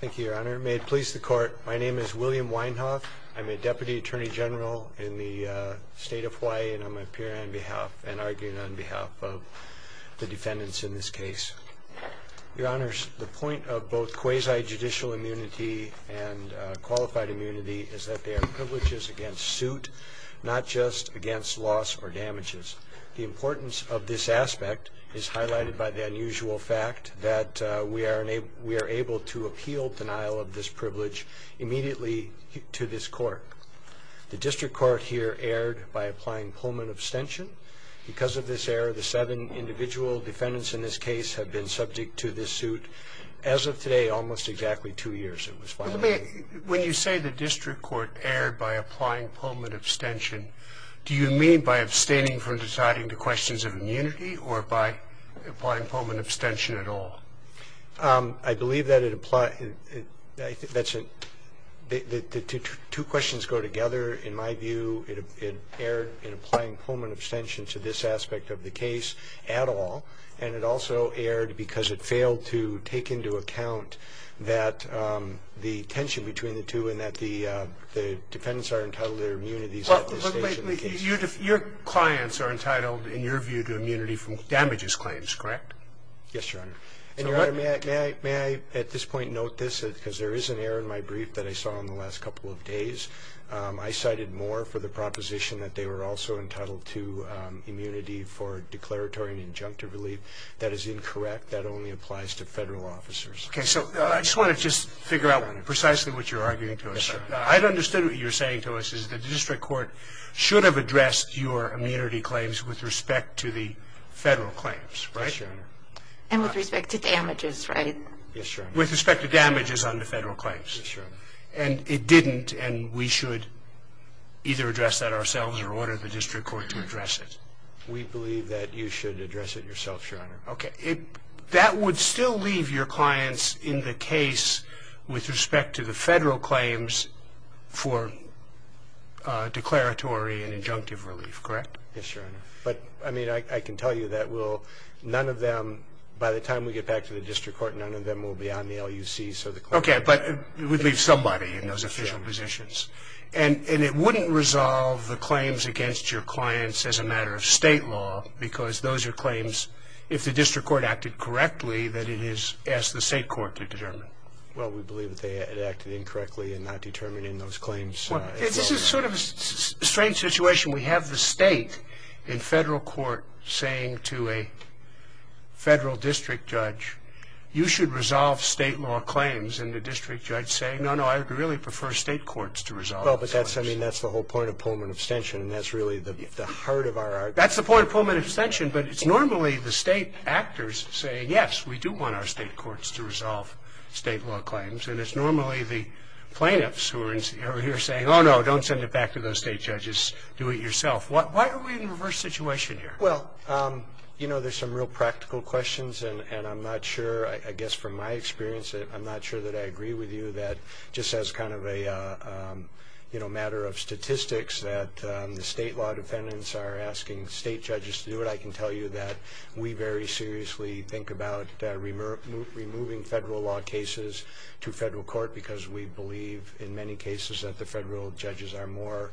Thank you, Your Honor. May it please the Court, my name is William Weinhoff. I'm a Deputy Attorney General in the State of Hawaii, and I'm here on behalf and arguing on behalf of the defendants in this case. Your Honors, the point of both quasi-judicial immunity and qualified immunity is that they are privileges against suit, not just against loss or damages. The importance of this aspect is highlighted by the unusual fact that we are able to appeal denial of this privilege immediately to this Court. The District Court here erred by applying Pullman abstention. Because of this error, the seven individual defendants in this case have been subject to this suit. As of today, almost exactly two years it was violated. When you say the District Court erred by applying Pullman abstention, do you mean by abstaining from deciding the questions of immunity or by applying Pullman abstention at all? I believe that it applies – that's a – the two questions go together. In my view, it erred in applying Pullman abstention to this aspect of the case at all. And it also erred because it failed to take into account that the tension between the two and that the defendants are entitled to their immunities at the stage of the case. Your clients are entitled, in your view, to immunity from damages claims, correct? Yes, Your Honor. And Your Honor, may I at this point note this, because there is an error in my brief that I saw in the last couple of days. I cited Moore for the proposition that they were also entitled to immunity for declaratory and injunctive relief. That is incorrect. That only applies to Federal officers. Okay, so I just want to just figure out precisely what you're arguing to us. I've understood what you're saying to us is that the District Court should have addressed your immunity claims with respect to the Federal claims, right? Yes, Your Honor. And with respect to damages, right? Yes, Your Honor. With respect to damages under Federal claims? Yes, Your Honor. And it didn't, and we should either address that ourselves or order the District Court to address it? We believe that you should address it yourself, Your Honor. Okay. That would still leave your clients in the case with respect to the Federal claims for declaratory and injunctive relief, correct? Yes, Your Honor. But, I mean, I can tell you that none of them, by the time we get back to the District Court, none of them will be on the LUC. Okay, but it would leave somebody in those official positions. And it wouldn't resolve the claims against your clients as a matter of State law because those are claims, if the District Court acted correctly, that it has asked the State Court to determine. Well, we believe that they had acted incorrectly in not determining those claims. Well, this is sort of a strange situation. We have the State in Federal court saying to a Federal district judge, you should resolve State law claims, and the district judge saying, no, no, I really prefer State courts to resolve those claims. Well, but that's, I mean, that's the whole point of Pullman abstention, and that's really the heart of our argument. That's the point of Pullman abstention, but it's normally the State actors saying, yes, we do want our State courts to resolve State law claims, and it's normally the plaintiffs who are here saying, oh, no, don't send it back to those State judges. Do it yourself. Why are we in a reverse situation here? Well, you know, there's some real practical questions, and I'm not sure, I guess from my experience, I'm not sure that I agree with you that just as kind of a, you know, matter of statistics that the State law defendants are asking State judges to do it, I can tell you that we very seriously think about removing Federal law cases to Federal court because we believe in many cases that the Federal judges are more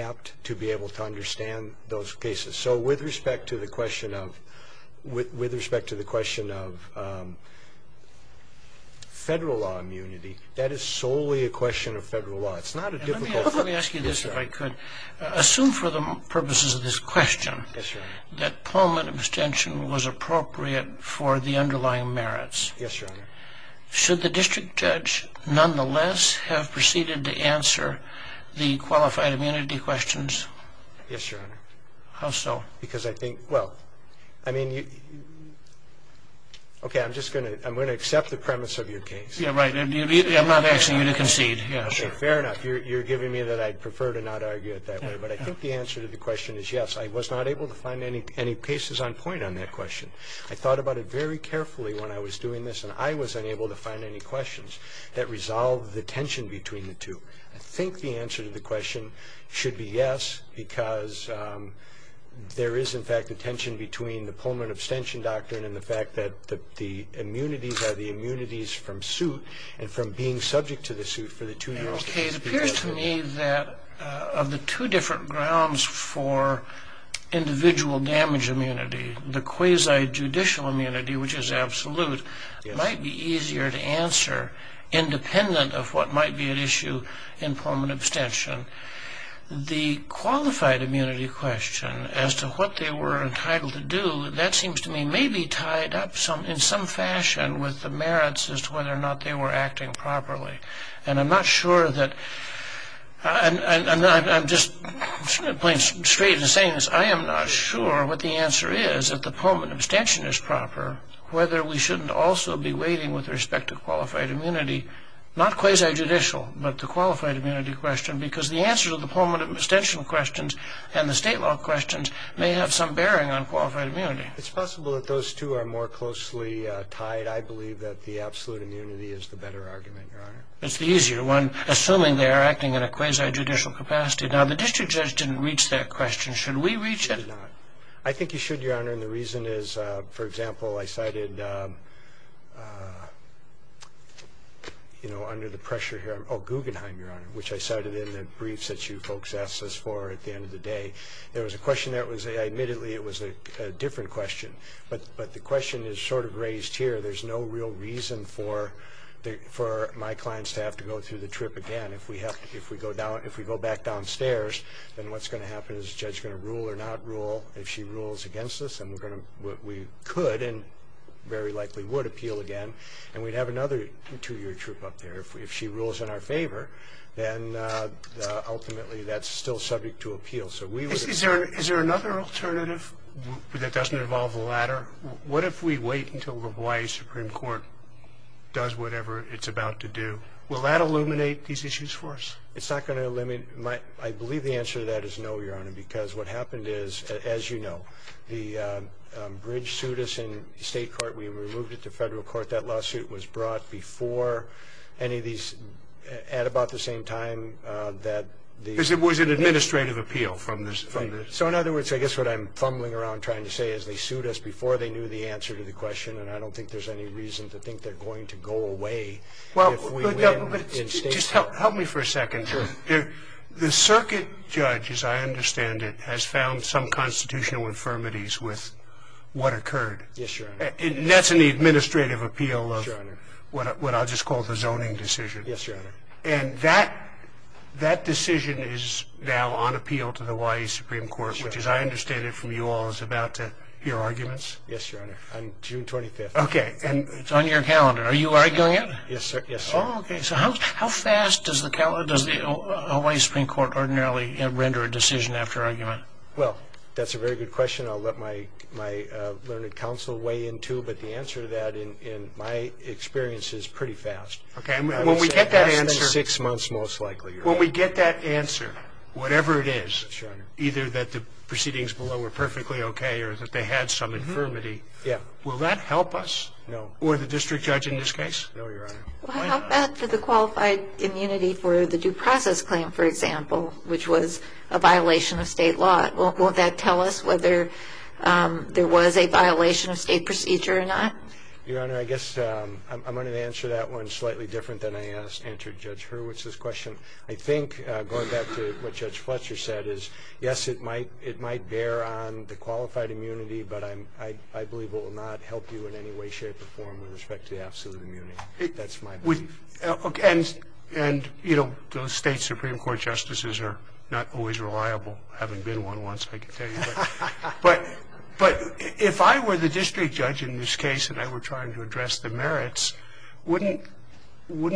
apt to be able to understand those cases. So with respect to the question of Federal law immunity, that is solely a question of Federal law. Let me ask you this, if I could. Assume for the purposes of this question that Pullman abstention was appropriate for the underlying merits. Yes, Your Honor. Should the district judge nonetheless have proceeded to answer the qualified immunity questions? Yes, Your Honor. How so? Because I think, well, I mean, okay, I'm just going to accept the premise of your case. Yeah, right. I'm not asking you to concede. Okay, fair enough. You're giving me that I'd prefer to not argue it that way, but I think the answer to the question is yes. I was not able to find any cases on point on that question. I thought about it very carefully when I was doing this, and I was unable to find any questions that resolved the tension between the two. I think the answer to the question should be yes because there is, in fact, a tension between the Pullman abstention doctrine and the fact that the immunities are the immunities from suit and from being subject to the suit for the two years. Okay, it appears to me that of the two different grounds for individual damage immunity, the quasi-judicial immunity, which is absolute, might be easier to answer independent of what might be at issue in Pullman abstention. The qualified immunity question as to what they were entitled to do, that seems to me may be tied up in some fashion with the merits as to whether or not they were acting properly. And I'm not sure that, and I'm just plain straight in saying this, I am not sure what the answer is that the Pullman abstention is proper, whether we shouldn't also be waiting with respect to qualified immunity, not quasi-judicial, but the qualified immunity question, because the answer to the Pullman abstention questions and the state law questions may have some bearing on qualified immunity. It's possible that those two are more closely tied. I believe that the absolute immunity is the better argument, Your Honor. It's the easier one, assuming they are acting in a quasi-judicial capacity. Now, the district judge didn't reach that question. Should we reach it? I think you should, Your Honor, and the reason is, for example, I cited under the pressure here, oh, Guggenheim, Your Honor, which I cited in the briefs that you folks asked us for at the end of the day. There was a question there. Admittedly, it was a different question, but the question is sort of raised here. There's no real reason for my clients to have to go through the trip again. If we go back downstairs, then what's going to happen is the judge is going to rule or not rule. If she rules against us, then we could and very likely would appeal again, and we'd have another two-year trip up there. If she rules in our favor, then ultimately that's still subject to appeal. So we would appeal. Is there another alternative that doesn't involve the latter? What if we wait until the Hawaii Supreme Court does whatever it's about to do? Will that illuminate these issues for us? It's not going to illuminate. I believe the answer to that is no, Your Honor, because what happened is, as you know, the bridge sued us in state court. We removed it to federal court. But that lawsuit was brought before any of these at about the same time that the- Because it was an administrative appeal from the- So, in other words, I guess what I'm fumbling around trying to say is they sued us before they knew the answer to the question, and I don't think there's any reason to think they're going to go away if we win in state court. Just help me for a second. Sure. The circuit judge, as I understand it, has found some constitutional infirmities with what occurred. Yes, Your Honor. And that's in the administrative appeal of what I'll just call the zoning decision. Yes, Your Honor. And that decision is now on appeal to the Hawaii Supreme Court, which, as I understand it from you all, is about to hear arguments. Yes, Your Honor, on June 25th. Okay. It's on your calendar. Are you arguing it? Yes, sir. Oh, okay. So how fast does the Hawaii Supreme Court ordinarily render a decision after argument? Well, that's a very good question. I'll let my learned counsel weigh in, too, but the answer to that, in my experience, is pretty fast. Okay. When we get that answer. Six months, most likely. When we get that answer, whatever it is, either that the proceedings below were perfectly okay or that they had some infirmity, will that help us? No. Or the district judge in this case? No, Your Honor. Well, how bad for the qualified immunity for the due process claim, for example, which was a violation of state law? Will that tell us whether there was a violation of state procedure or not? Your Honor, I guess I'm going to answer that one slightly different than I answered Judge Hurwitz's question. I think, going back to what Judge Fletcher said, is, yes, it might bear on the qualified immunity, but I believe it will not help you in any way, shape, or form with respect to the absolute immunity. That's my belief. Okay. And, you know, those state Supreme Court justices are not always reliable. I haven't been one once, I can tell you. But if I were the district judge in this case and I were trying to address the merits, wouldn't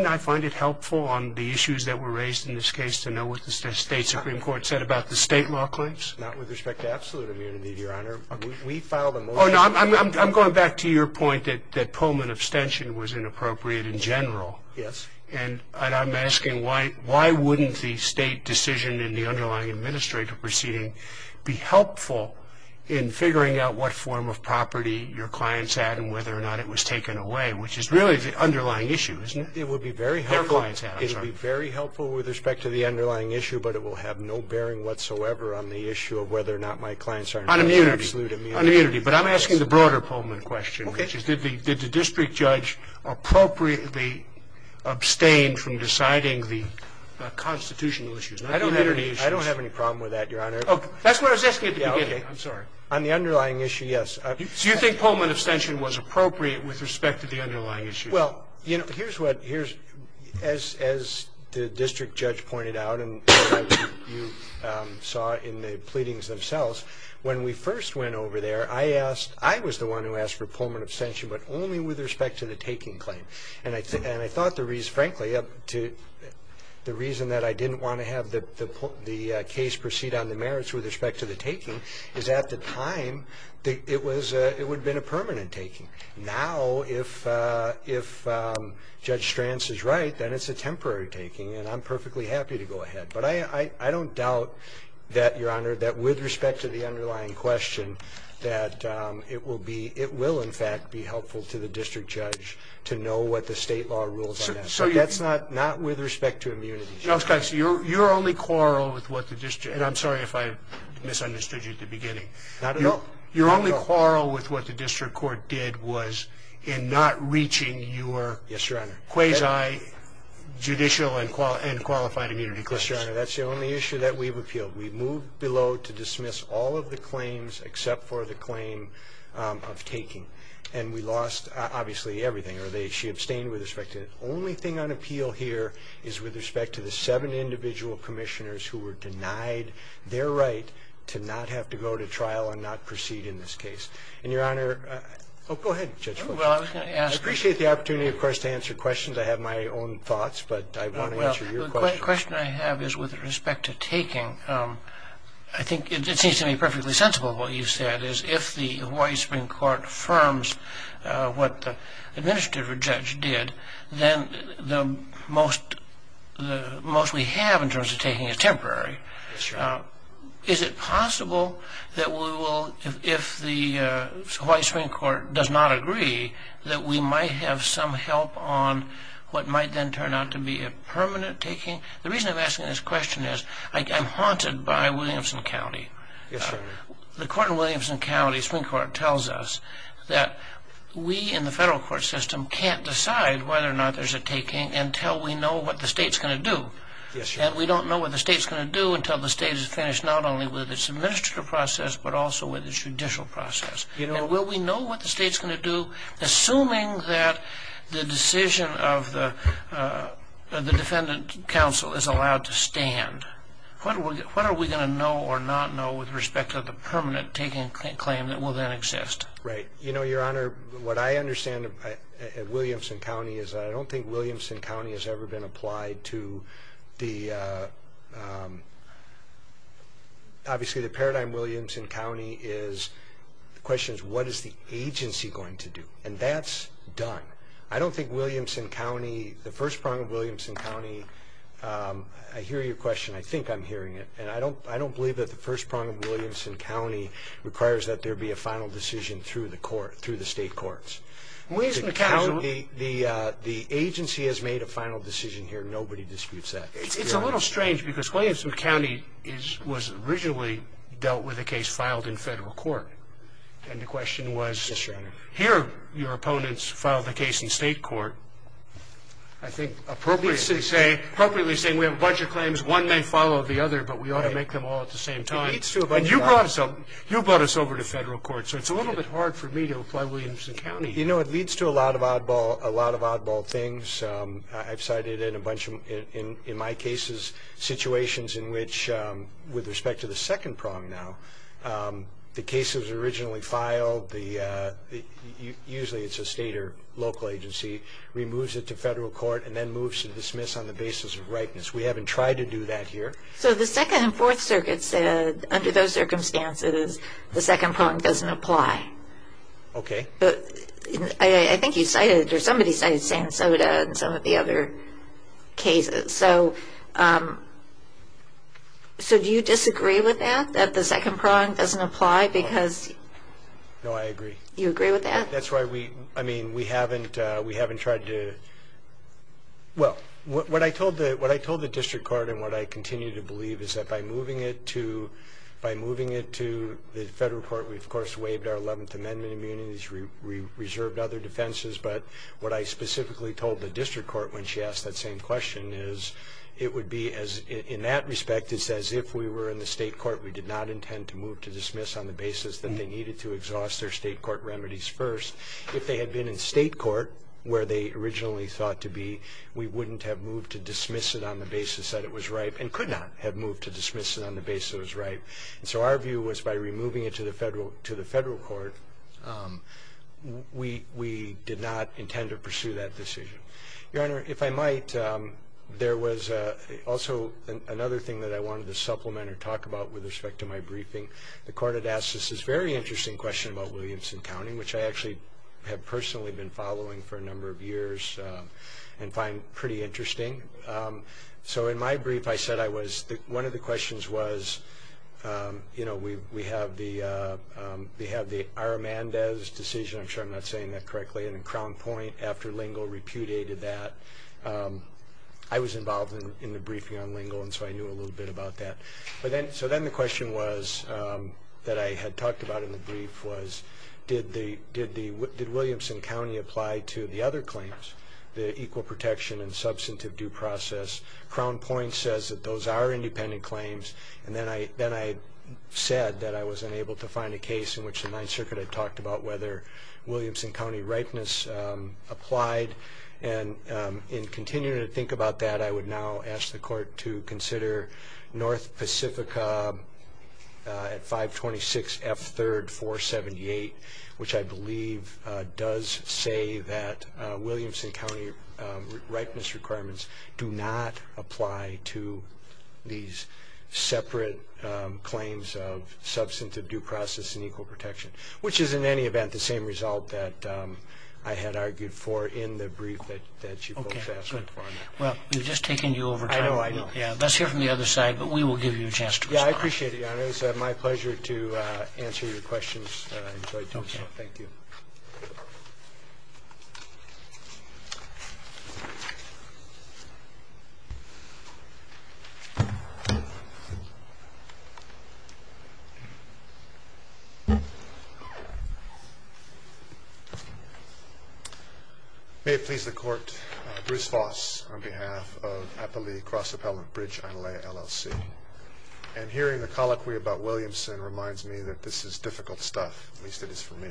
I find it helpful on the issues that were raised in this case to know what the state Supreme Court said about the state law claims? Not with respect to absolute immunity, Your Honor. We filed a motion. Oh, no, I'm going back to your point that Pullman abstention was inappropriate in general. Yes. And I'm asking why wouldn't the state decision in the underlying administrative proceeding be helpful in figuring out what form of property your clients had and whether or not it was taken away, which is really the underlying issue, isn't it? It would be very helpful. Their clients had it. It would be very helpful with respect to the underlying issue, but it will have no bearing whatsoever on the issue of whether or not my clients are in absolute immunity. On immunity. On immunity. But I'm asking the broader Pullman question. Okay. The broader question is did the district judge appropriately abstain from deciding the constitutional issues? I don't have any issues. I don't have any problem with that, Your Honor. Oh, that's what I was asking at the beginning. I'm sorry. On the underlying issue, yes. So you think Pullman abstention was appropriate with respect to the underlying issue? Well, you know, here's what the district judge pointed out and you saw in the pleadings When we first went over there, I was the one who asked for Pullman abstention, but only with respect to the taking claim. And I thought the reason, frankly, the reason that I didn't want to have the case proceed on the merits with respect to the taking is at the time it would have been a permanent taking. Now if Judge Stranz is right, then it's a temporary taking, and I'm perfectly happy to go ahead. But I don't doubt that, Your Honor, that with respect to the underlying question, that it will in fact be helpful to the district judge to know what the state law rules on that. So that's not with respect to immunity. You're only quarrel with what the district, and I'm sorry if I misunderstood you at the beginning. Not at all. You're only quarrel with what the district court did was in not reaching your quasi-judicial and qualified immunity claims. Yes, Your Honor. That's the only issue that we've appealed. We've moved below to dismiss all of the claims except for the claim of taking. And we lost, obviously, everything. She abstained with respect to it. The only thing on appeal here is with respect to the seven individual commissioners who were denied their right to not have to go to trial and not proceed in this case. And, Your Honor, I appreciate the opportunity, of course, to answer questions. I have my own thoughts, but I want to answer your question. The question I have is with respect to taking. I think it seems to me perfectly sensible what you said, is if the Hawaii Supreme Court affirms what the administrative judge did, then most we have in terms of taking is temporary. Yes, Your Honor. Is it possible that we will, if the Hawaii Supreme Court does not agree, that we might have some help on what might then turn out to be a permanent taking? The reason I'm asking this question is I'm haunted by Williamson County. Yes, Your Honor. The court in Williamson County, Supreme Court, tells us that we in the federal court system can't decide whether or not there's a taking until we know what the state's going to do. Yes, Your Honor. And we don't know what the state's going to do until the state has finished not only with its administrative process but also with its judicial process. And will we know what the state's going to do, assuming that the decision of the defendant counsel is allowed to stand? What are we going to know or not know with respect to the permanent taking claim that will then exist? Right. You know, Your Honor, what I understand at Williamson County is I don't think Williamson County has ever been applied to the – obviously the paradigm in Williamson County is – the question is what is the agency going to do? And that's done. I don't think Williamson County, the first prong of Williamson County – I hear your question. I think I'm hearing it. And I don't believe that the first prong of Williamson County requires that there be a final decision through the state courts. In Williamson County, the agency has made a final decision here. Nobody disputes that. It's a little strange because Williamson County was originally dealt with a case filed in federal court. And the question was here your opponents filed the case in state court. I think appropriately saying we have a bunch of claims, one may follow the other, but we ought to make them all at the same time. And you brought us over to federal court, so it's a little bit hard for me to apply Williamson County. You know, it leads to a lot of oddball things. I've cited in my cases situations in which, with respect to the second prong now, the case that was originally filed, usually it's a state or local agency, removes it to federal court and then moves to dismiss on the basis of ripeness. We haven't tried to do that here. So the Second and Fourth Circuits said, under those circumstances, the second prong doesn't apply. Okay. I think you cited, or somebody cited, Santa Sota in some of the other cases. So do you disagree with that, that the second prong doesn't apply? No, I agree. You agree with that? That's why we haven't tried to – well, what I told the district court and what I continue to believe is that by moving it to the federal court, we've, of course, waived our Eleventh Amendment immunities, we reserved other defenses. But what I specifically told the district court when she asked that same question is it would be, in that respect, as if we were in the state court, we did not intend to move to dismiss on the basis that they needed to exhaust their state court remedies first. If they had been in state court, where they originally thought to be, we wouldn't have moved to dismiss it on the basis that it was ripe and could not have moved to dismiss it on the basis that it was ripe. And so our view was by removing it to the federal court, we did not intend to pursue that decision. Your Honor, if I might, there was also another thing that I wanted to supplement or talk about with respect to my briefing. The court had asked us this very interesting question about Williamson County, which I actually have personally been following for a number of years and find pretty interesting. So in my brief, I said one of the questions was, you know, we have the Ira Mandes decision, I'm sure I'm not saying that correctly, and in Crown Point after Lingle repudiated that. I was involved in the briefing on Lingle, and so I knew a little bit about that. So then the question that I had talked about in the brief was did Williamson County apply to the other claims, the equal protection and substantive due process. Crown Point says that those are independent claims, and then I said that I was unable to find a case in which the Ninth Circuit had talked about whether Williamson County ripeness applied. And in continuing to think about that, I would now ask the court to consider North Pacifica at 526 F. 3rd 478, which I believe does say that Williamson County ripeness requirements do not apply to these separate claims of substantive due process and equal protection, which is in any event the same result that I had argued for in the brief that you both asked me for. Well, we've just taken you over time. I know, I know. Let's hear from the other side, but we will give you a chance to respond. Yeah, I appreciate it, Your Honor. It was my pleasure to answer your questions. I enjoyed doing so. Thank you. Thank you. May it please the Court, Bruce Foss on behalf of Appali Cross Appellant Bridge, Analaya, LLC. And hearing the colloquy about Williamson reminds me that this is difficult stuff, at least it is for me.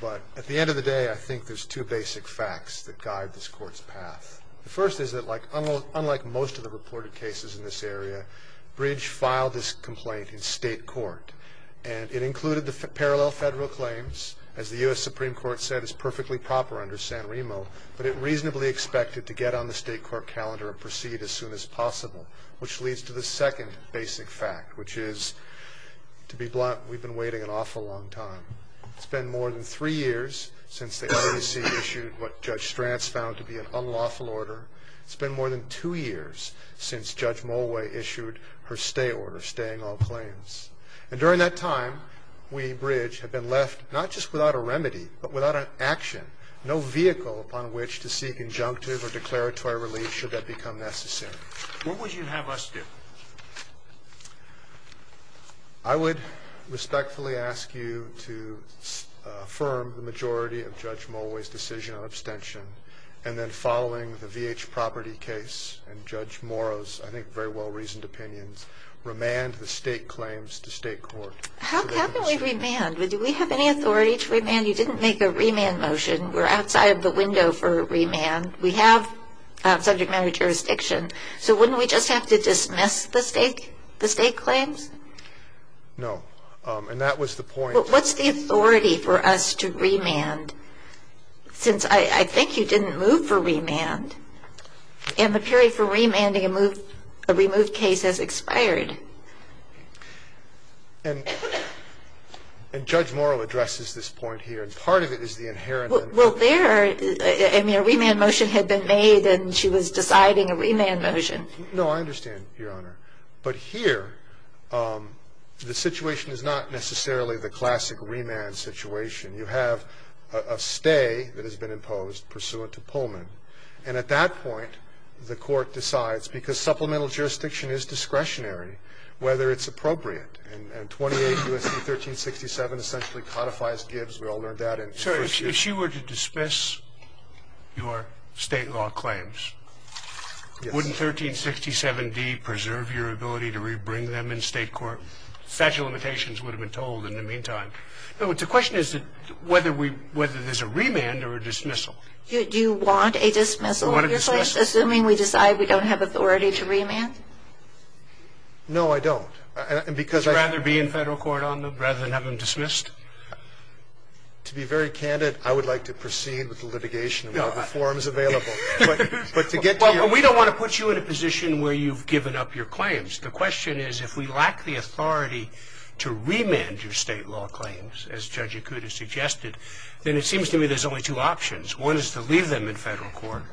But at the end of the day, I think there's two basic facts that guide this Court's path. The first is that unlike most of the reported cases in this area, Bridge filed this complaint in state court, and it included the parallel federal claims. As the U.S. Supreme Court said, it's perfectly proper under San Remo, but it reasonably expected to get on the state court calendar and proceed as soon as possible, which leads to the second basic fact, which is, to be blunt, we've been waiting an awful long time. It's been more than three years since the LACC issued what Judge Stranz found to be an unlawful order. It's been more than two years since Judge Mulway issued her stay order, staying all claims. And during that time, we, Bridge, have been left not just without a remedy, but without an action, no vehicle upon which to seek injunctive or declaratory relief should that become necessary. What would you have us do? I would respectfully ask you to affirm the majority of Judge Mulway's decision on abstention, and then following the V.H. Property case and Judge Morrow's, I think, very well-reasoned opinions, remand the state claims to state court. How can we remand? Do we have any authority to remand? You didn't make a remand motion. We're outside of the window for a remand. We have subject matter jurisdiction. So wouldn't we just have to dismiss the state claims? No. And that was the point. What's the authority for us to remand? Since I think you didn't move for remand. And the period for remanding a removed case has expired. And Judge Morrow addresses this point here. And part of it is the inherent. Well, there, I mean, a remand motion had been made, and she was deciding a remand motion. No, I understand, Your Honor. But here, the situation is not necessarily the classic remand situation. You have a stay that has been imposed pursuant to Pullman. And at that point, the court decides, because supplemental jurisdiction is discretionary, whether it's appropriate. And 28 U.S.C. 1367 essentially codifies Gibbs. We all learned that in first year. If she were to dismiss your state law claims, wouldn't 1367D preserve your ability to rebring them in state court? Fragile limitations would have been told in the meantime. The question is whether there's a remand or a dismissal. Do you want a dismissal? Assuming we decide we don't have authority to remand? No, I don't. Would you rather be in federal court on them rather than have them dismissed? To be very candid, I would like to proceed with the litigation. We have the forms available. But to get to your point. Well, we don't want to put you in a position where you've given up your claims. The question is if we lack the authority to remand your state law claims, as Judge Yakuta suggested, then it seems to me there's only two options. One is to leave them in federal court,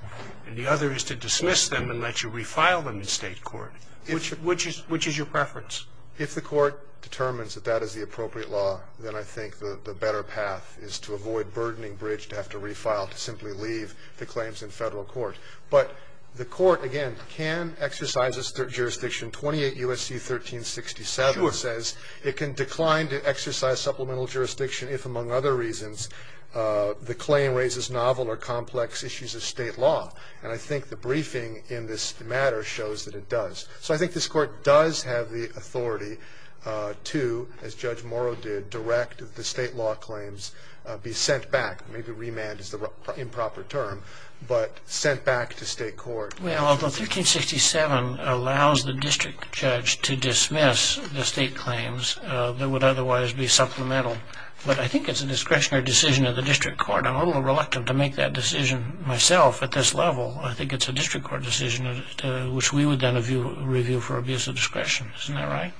and the other is to dismiss them and let you refile them in state court. Which is your preference? If the court determines that that is the appropriate law, then I think the better path is to avoid burdening Bridge to have to refile, to simply leave the claims in federal court. But the court, again, can exercise its jurisdiction. 28 U.S.C. 1367 says it can decline to exercise supplemental jurisdiction if, among other reasons, the claim raises novel or complex issues of state law. And I think the briefing in this matter shows that it does. So I think this court does have the authority to, as Judge Morrow did, direct the state law claims be sent back. Maybe remand is the improper term, but sent back to state court. Well, although 1367 allows the district judge to dismiss the state claims that would otherwise be supplemental, but I think it's a discretionary decision of the district court. I'm a little reluctant to make that decision myself at this level. I think it's a district court decision, which we would then review for abuse of discretion. Isn't that right?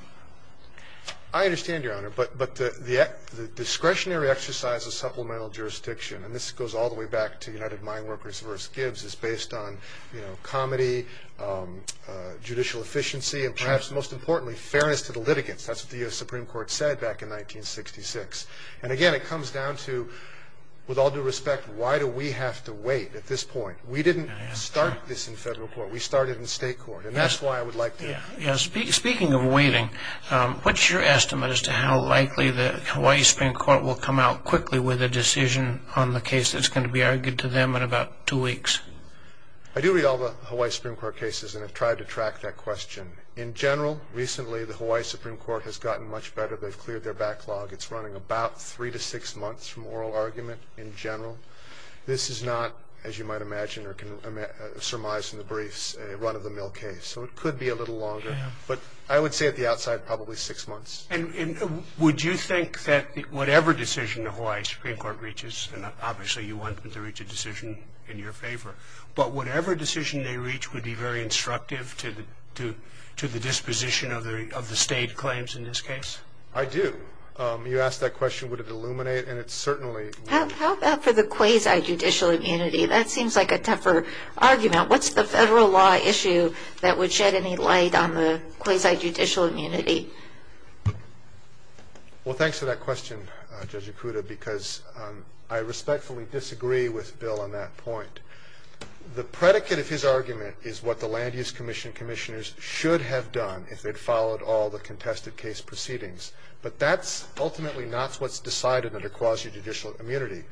I understand, Your Honor. But the discretionary exercise of supplemental jurisdiction, and this goes all the way back to United Mine Workers v. Gibbs, is based on comedy, judicial efficiency, and perhaps most importantly, fairness to the litigants. That's what the U.S. Supreme Court said back in 1966. And again, it comes down to, with all due respect, why do we have to wait at this point? We didn't start this in federal court. We started in state court, and that's why I would like to wait. Speaking of waiting, what's your estimate as to how likely the Hawaii Supreme Court will come out quickly with a decision on the case that's going to be argued to them in about two weeks? I do read all the Hawaii Supreme Court cases and have tried to track that question. In general, recently the Hawaii Supreme Court has gotten much better. They've cleared their backlog. It's running about three to six months from oral argument in general. This is not, as you might imagine, or can surmise in the briefs, a run-of-the-mill case. So it could be a little longer. But I would say at the outside, probably six months. And would you think that whatever decision the Hawaii Supreme Court reaches, and obviously you want them to reach a decision in your favor, but whatever decision they reach would be very instructive to the disposition of the state claims in this case? I do. You asked that question, would it illuminate, and it certainly will. How about for the quasi-judicial immunity? That seems like a tougher argument. What's the federal law issue that would shed any light on the quasi-judicial immunity? Well, thanks for that question, Judge Ikuda, because I respectfully disagree with Bill on that point. The predicate of his argument is what the Land Use Commission commissioners should have done if they'd followed all the contested case proceedings. But that's ultimately not what's decided under quasi-judicial immunity.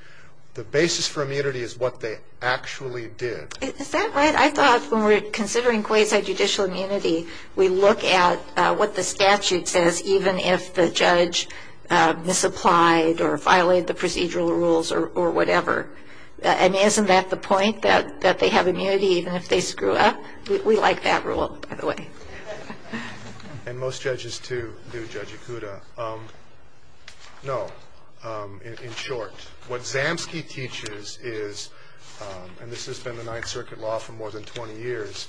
The basis for immunity is what they actually did. Is that right? I thought when we're considering quasi-judicial immunity, we look at what the statute says even if the judge misapplied or violated the procedural rules or whatever. I mean, isn't that the point, that they have immunity even if they screw up? We like that rule, by the way. And most judges, too, do, Judge Ikuda. No, in short, what Zamsky teaches is, and this has been the Ninth Circuit law for more than 20 years,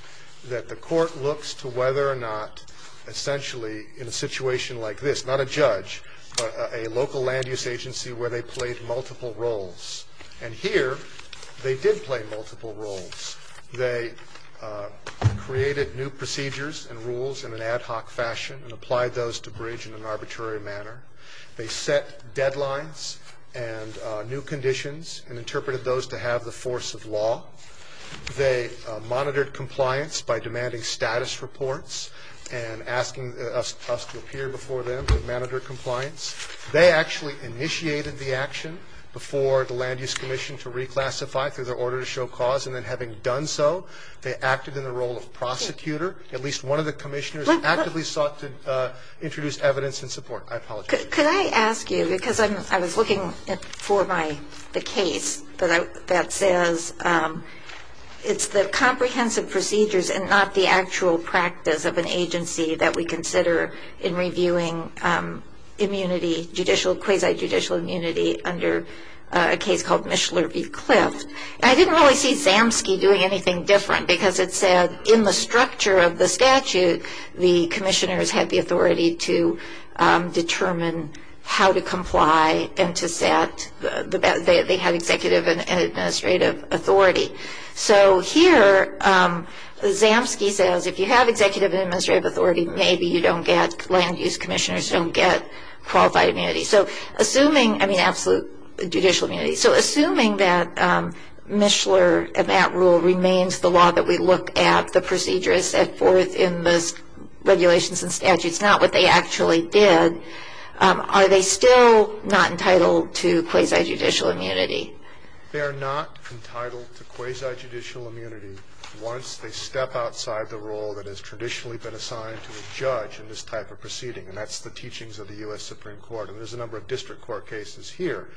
that the court looks to whether or not essentially in a situation like this, not a judge, but a local land use agency where they played multiple roles. And here, they did play multiple roles. They created new procedures and rules in an ad hoc fashion and applied those to bridge in an arbitrary manner. They set deadlines and new conditions and interpreted those to have the force of law. They monitored compliance by demanding status reports and asking us to appear before them and monitor compliance. They actually initiated the action before the Land Use Commission to reclassify through their order to show cause. And then having done so, they acted in the role of prosecutor. At least one of the commissioners actively sought to introduce evidence in support. I apologize. Could I ask you, because I was looking for the case that says it's the comprehensive procedures and not the actual practice of an agency that we consider in reviewing immunity, quasi-judicial immunity under a case called Mishler v. Clift. I didn't really see Zamsky doing anything different, because it said in the structure of the statute, the commissioners had the authority to determine how to comply and they had executive and administrative authority. So here, Zamsky says if you have executive and administrative authority, maybe you don't get, Land Use Commissioners don't get qualified immunity. So assuming, I mean absolute judicial immunity, so assuming that Mishler and that rule remains the law that we look at, the procedure is set forth in those regulations and statutes, not what they actually did, are they still not entitled to quasi-judicial immunity? They are not entitled to quasi-judicial immunity Once they step outside the role that has traditionally been assigned to a judge in this type of proceeding, and that's the teachings of the U.S. Supreme Court, and there's a number of district court cases here.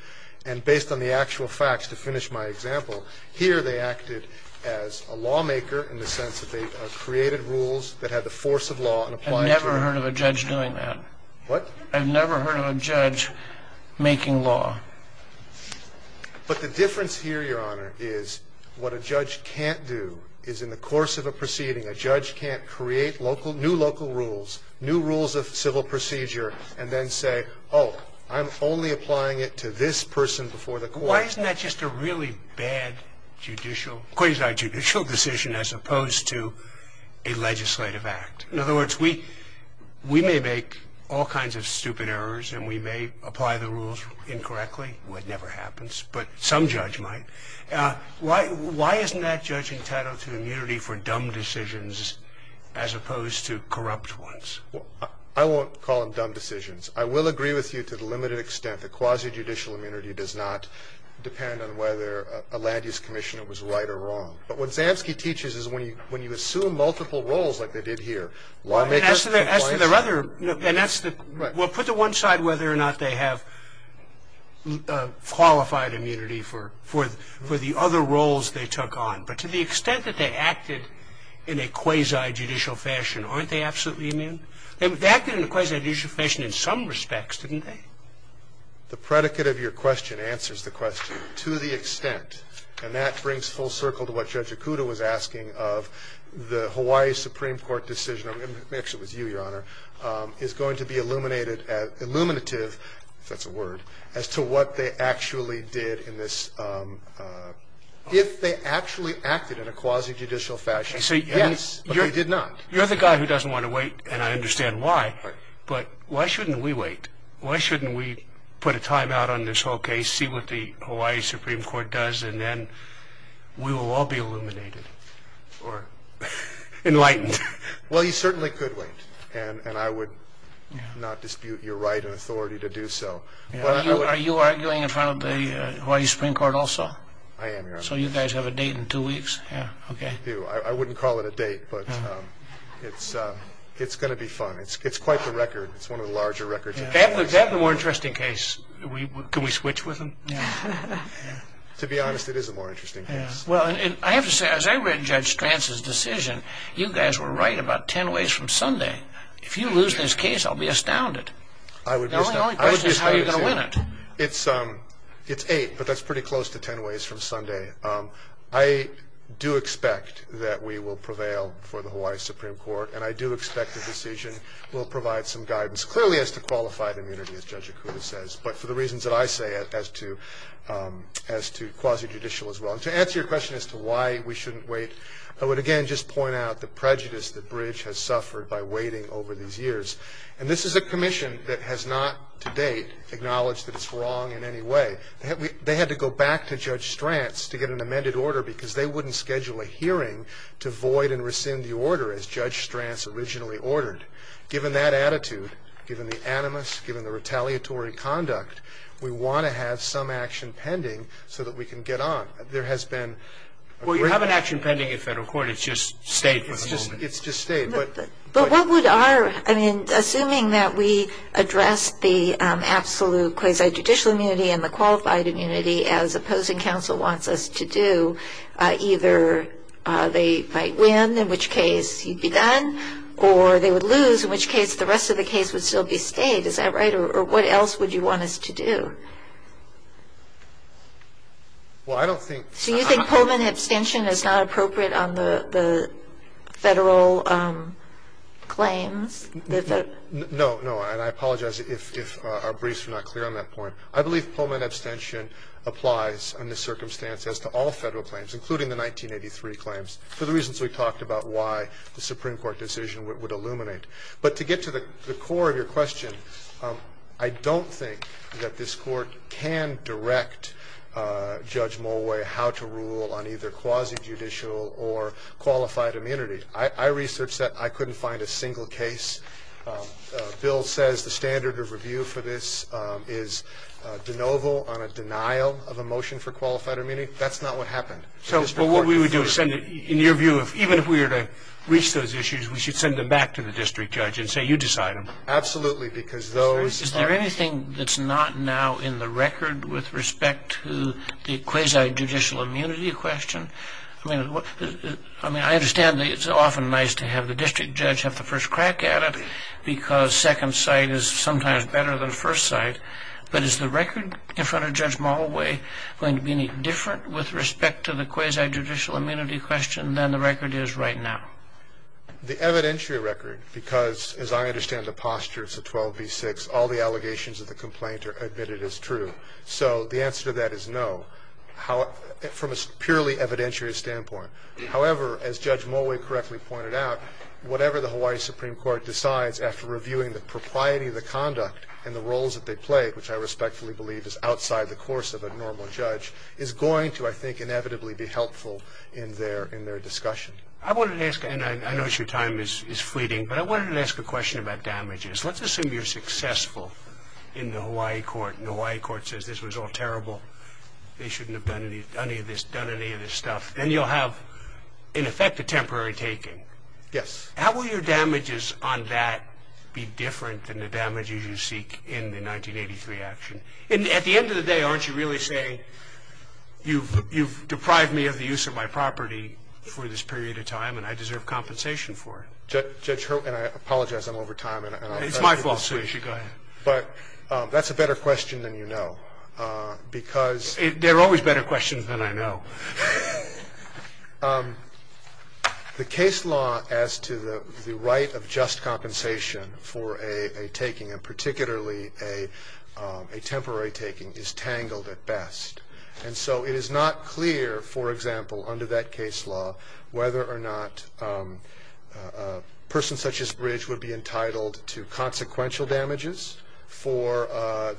And based on the actual facts, to finish my example, here they acted as a lawmaker in the sense that they created rules that had the force of law and applied to them. I've never heard of a judge doing that. What? I've never heard of a judge making law. But the difference here, Your Honor, is what a judge can't do is in the course of a proceeding, a judge can't create local, new local rules, new rules of civil procedure, and then say, oh, I'm only applying it to this person before the court. Why isn't that just a really bad judicial, quasi-judicial decision, as opposed to a legislative act? In other words, we may make all kinds of stupid errors and we may apply the rules incorrectly. It never happens. But some judge might. Why isn't that judge entitled to immunity for dumb decisions as opposed to corrupt ones? I won't call them dumb decisions. I will agree with you to the limited extent that quasi-judicial immunity does not depend on whether a land-use commission was right or wrong. But what Zamsky teaches is when you assume multiple roles like they did here, lawmaker, in Hawaii, they may have a qualified immunity for the other roles they took on. But to the extent that they acted in a quasi-judicial fashion, aren't they absolutely immune? They acted in a quasi-judicial fashion in some respects, didn't they? The predicate of your question answers the question, to the extent, and that brings full circle to what Judge Akuto was asking, of the Hawaii Supreme Court decision. Let me actually repeat it. is going to be illuminative, if that's a word, as to what they actually did in this. If they actually acted in a quasi-judicial fashion, but they did not. You're the guy who doesn't want to wait, and I understand why, but why shouldn't we wait? Why shouldn't we put a timeout on this whole case, see what the Hawaii Supreme Court does, and then we will all be illuminated or enlightened? Well, you certainly could wait, and I would not dispute your right and authority to do so. Are you arguing in front of the Hawaii Supreme Court also? I am, Your Honor. So you guys have a date in two weeks? I wouldn't call it a date, but it's going to be fun. It's quite the record. It's one of the larger records. Is that the more interesting case? Can we switch with him? To be honest, it is a more interesting case. Well, I have to say, as I read Judge Stranz's decision, you guys were right about ten ways from Sunday. If you lose this case, I'll be astounded. The only question is how you're going to win it. It's eight, but that's pretty close to ten ways from Sunday. I do expect that we will prevail for the Hawaii Supreme Court, and I do expect the decision will provide some guidance, clearly as to qualified immunity, as Judge Okuda says, but for the reasons that I say as to quasi-judicial as well. And to answer your question as to why we shouldn't wait, I would again just point out the prejudice that Bridge has suffered by waiting over these years. And this is a commission that has not, to date, acknowledged that it's wrong in any way. They had to go back to Judge Stranz to get an amended order because they wouldn't schedule a hearing to void and rescind the order as Judge Stranz originally ordered. Given that attitude, given the animus, given the retaliatory conduct, we want to have some action pending so that we can get on. There has been a great... Well, you have an action pending at Federal Court. It's just State for the moment. It's just State, but... But what would our, I mean, assuming that we address the absolute quasi-judicial immunity and the qualified immunity as opposing counsel wants us to do, either they might win, in which case you'd be done, or they would lose, in which case the rest of the case would still be State. Is that right? Or what else would you want us to do? Well, I don't think... So you think Pullman abstention is not appropriate on the Federal claims? No, no. And I apologize if our briefs are not clear on that point. I believe Pullman abstention applies in this circumstance as to all Federal claims, including the 1983 claims, for the reasons we talked about why the Supreme Court decision would illuminate. But to get to the core of your question, I don't think that this Court can direct Judge Mulway how to rule on either quasi-judicial or qualified immunity. I researched that. I couldn't find a single case. Bill says the standard of review for this is de novo on a denial of a motion for qualified immunity. That's not what happened. So what we would do is send it, in your view, even if we were to reach those issues, we should send them back to the district judge and say, Absolutely, because those... Is there anything that's not now in the record with respect to the quasi-judicial immunity question? I mean, I understand that it's often nice to have the district judge have the first crack at it because second sight is sometimes better than first sight. But is the record in front of Judge Mulway going to be any different with respect to the quasi-judicial immunity question than the record is right now? The evidentiary record, because as I understand the posture, it's a 12B6, all the allegations of the complaint are admitted as true. So the answer to that is no from a purely evidentiary standpoint. However, as Judge Mulway correctly pointed out, whatever the Hawaii Supreme Court decides after reviewing the propriety of the conduct and the roles that they play, which I respectfully believe is outside the course of a normal judge, is going to, I think, inevitably be helpful in their discussion. I wanted to ask, and I know your time is fleeting, but I wanted to ask a question about damages. Let's assume you're successful in the Hawaii court, and the Hawaii court says this was all terrible, they shouldn't have done any of this stuff, then you'll have, in effect, a temporary taking. Yes. How will your damages on that be different than the damages you seek in the 1983 action? And at the end of the day, aren't you really saying you've deprived me of the use of my property for this period of time and I deserve compensation for it? Judge Hurwitz, and I apologize, I'm over time. It's my fault, so you should go ahead. But that's a better question than you know, because There are always better questions than I know. The case law as to the right of just compensation for a taking, and particularly a temporary taking, is tangled at best. And so it is not clear, for example, under that case law, whether or not a person such as Bridge would be entitled to consequential damages for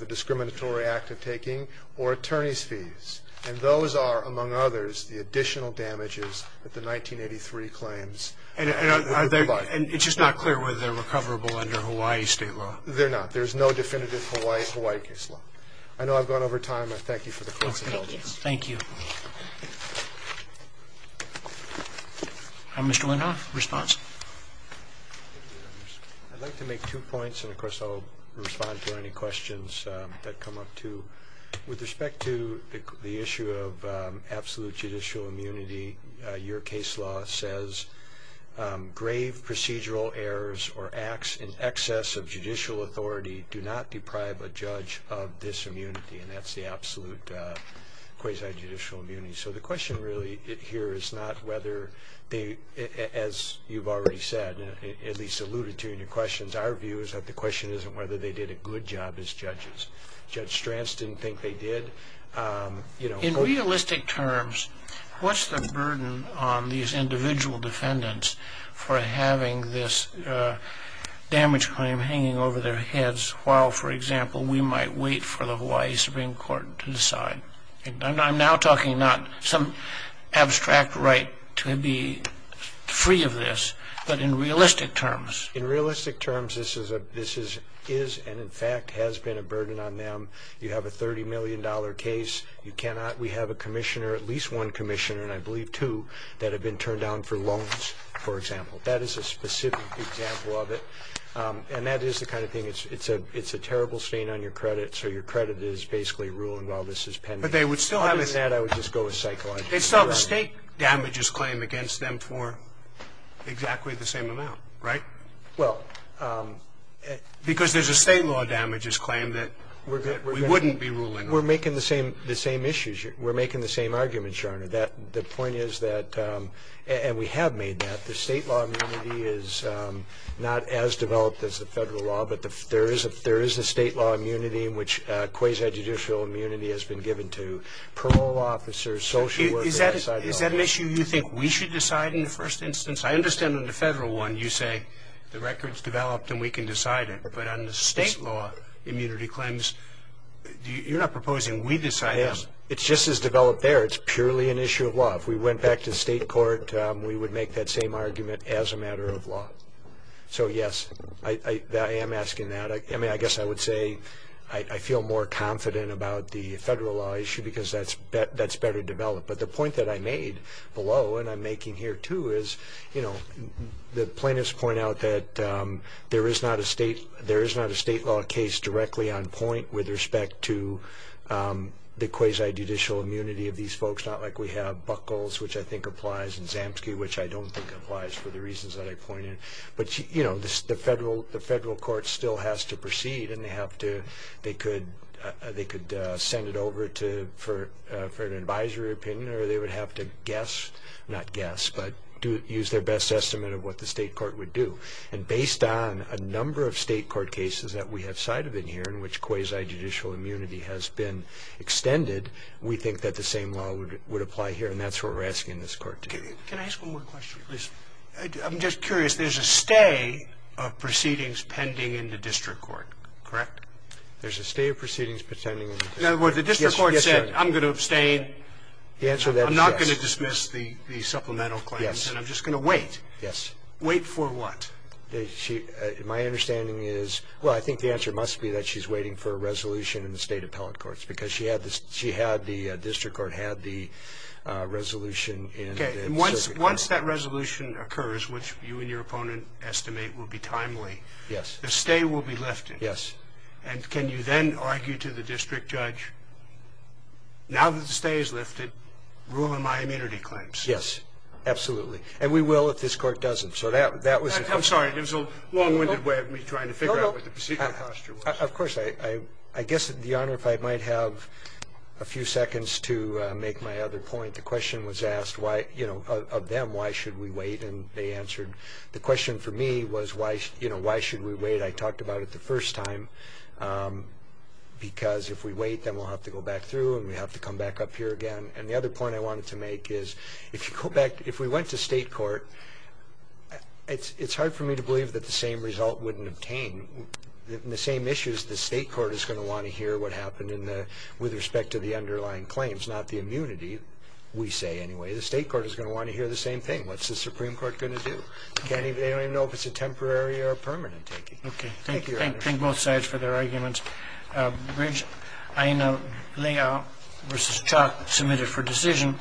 the discriminatory act of taking or attorney's fees. And those are, among others, the additional damages that the 1983 claims provide. And it's just not clear whether they're recoverable under Hawaii state law. They're not. There's no definitive Hawaii case law. I know I've gone over time. I thank you for the question. Thank you. Mr. Winhoff, response. I'd like to make two points, and of course I'll respond to any questions that come up, too. With respect to the issue of absolute judicial immunity, your case law says, grave procedural errors or acts in excess of judicial authority do not deprive a judge of this immunity. And that's the absolute quasi-judicial immunity. So the question really here is not whether they, as you've already said, at least alluded to in your questions, our view is that the question isn't whether they did a good job as judges. Judge Stranz didn't think they did. In realistic terms, what's the burden on these individual defendants for having this damage claim while, for example, we might wait for the Hawaii Supreme Court to decide? I'm now talking not some abstract right to be free of this, but in realistic terms. In realistic terms, this is and, in fact, has been a burden on them. You have a $30 million case. We have a commissioner, at least one commissioner, and I believe two, that have been turned down for loans, for example. That is a specific example of it. And that is the kind of thing, it's a terrible stain on your credit, so your credit is basically ruling, well, this is pending. But they would still have this. Other than that, I would just go with psychological. They still have a state damages claim against them for exactly the same amount, right? Well. Because there's a state law damages claim that we wouldn't be ruling on. We're making the same arguments, Your Honor. The point is that, and we have made that, the state law immunity is not as developed as the federal law, but there is a state law immunity in which quasi-judicial immunity has been given to parole officers, social workers. Is that an issue you think we should decide in the first instance? I understand in the federal one you say the record's developed and we can decide it. But on the state law immunity claims, you're not proposing we decide this. It's just as developed there. It's purely an issue of law. If we went back to the state court, we would make that same argument as a matter of law. So, yes, I am asking that. I mean, I guess I would say I feel more confident about the federal law issue because that's better developed. But the point that I made below, and I'm making here too, is, you know, the plaintiffs point out that there is not a state law case directly on point with respect to the quasi-judicial immunity of these folks. Not like we have Buckles, which I think applies, and Zamsky, which I don't think applies for the reasons that I pointed. But, you know, the federal court still has to proceed, and they could send it over for an advisory opinion or they would have to guess, not guess, but use their best estimate of what the state court would do. And based on a number of state court cases that we have cited in here in which quasi-judicial immunity has been extended, we think that the same law would apply here, and that's what we're asking this court to do. Can I ask one more question, please? I'm just curious. There's a stay of proceedings pending in the district court, correct? There's a stay of proceedings pending in the district court. In other words, the district court said, I'm going to abstain. The answer to that is yes. Yes. And I'm just going to wait. Yes. Wait for what? My understanding is, well, I think the answer must be that she's waiting for a resolution in the state appellate courts because she had the district court had the resolution. Okay. Once that resolution occurs, which you and your opponent estimate will be timely, the stay will be lifted. Yes. And can you then argue to the district judge, now that the stay is lifted, rule in my immunity claims? Yes, absolutely. And we will if this court doesn't. I'm sorry. It was a long-winded way of me trying to figure out what the procedural posture was. Of course. I guess, Your Honor, if I might have a few seconds to make my other point. The question was asked of them, why should we wait? And they answered, the question for me was, why should we wait? I talked about it the first time because if we wait, then we'll have to go back through and we'll have to come back up here again. And the other point I wanted to make is, if we went to state court, it's hard for me to believe that the same result wouldn't obtain. In the same issues, the state court is going to want to hear what happened with respect to the underlying claims, not the immunity, we say anyway. The state court is going to want to hear the same thing. What's the Supreme Court going to do? They don't even know if it's a temporary or a permanent taking. Okay. Thank you, Your Honor. Thank both sides for their arguments. Bridge, Aina, Leah versus Chuck, submitted for decision.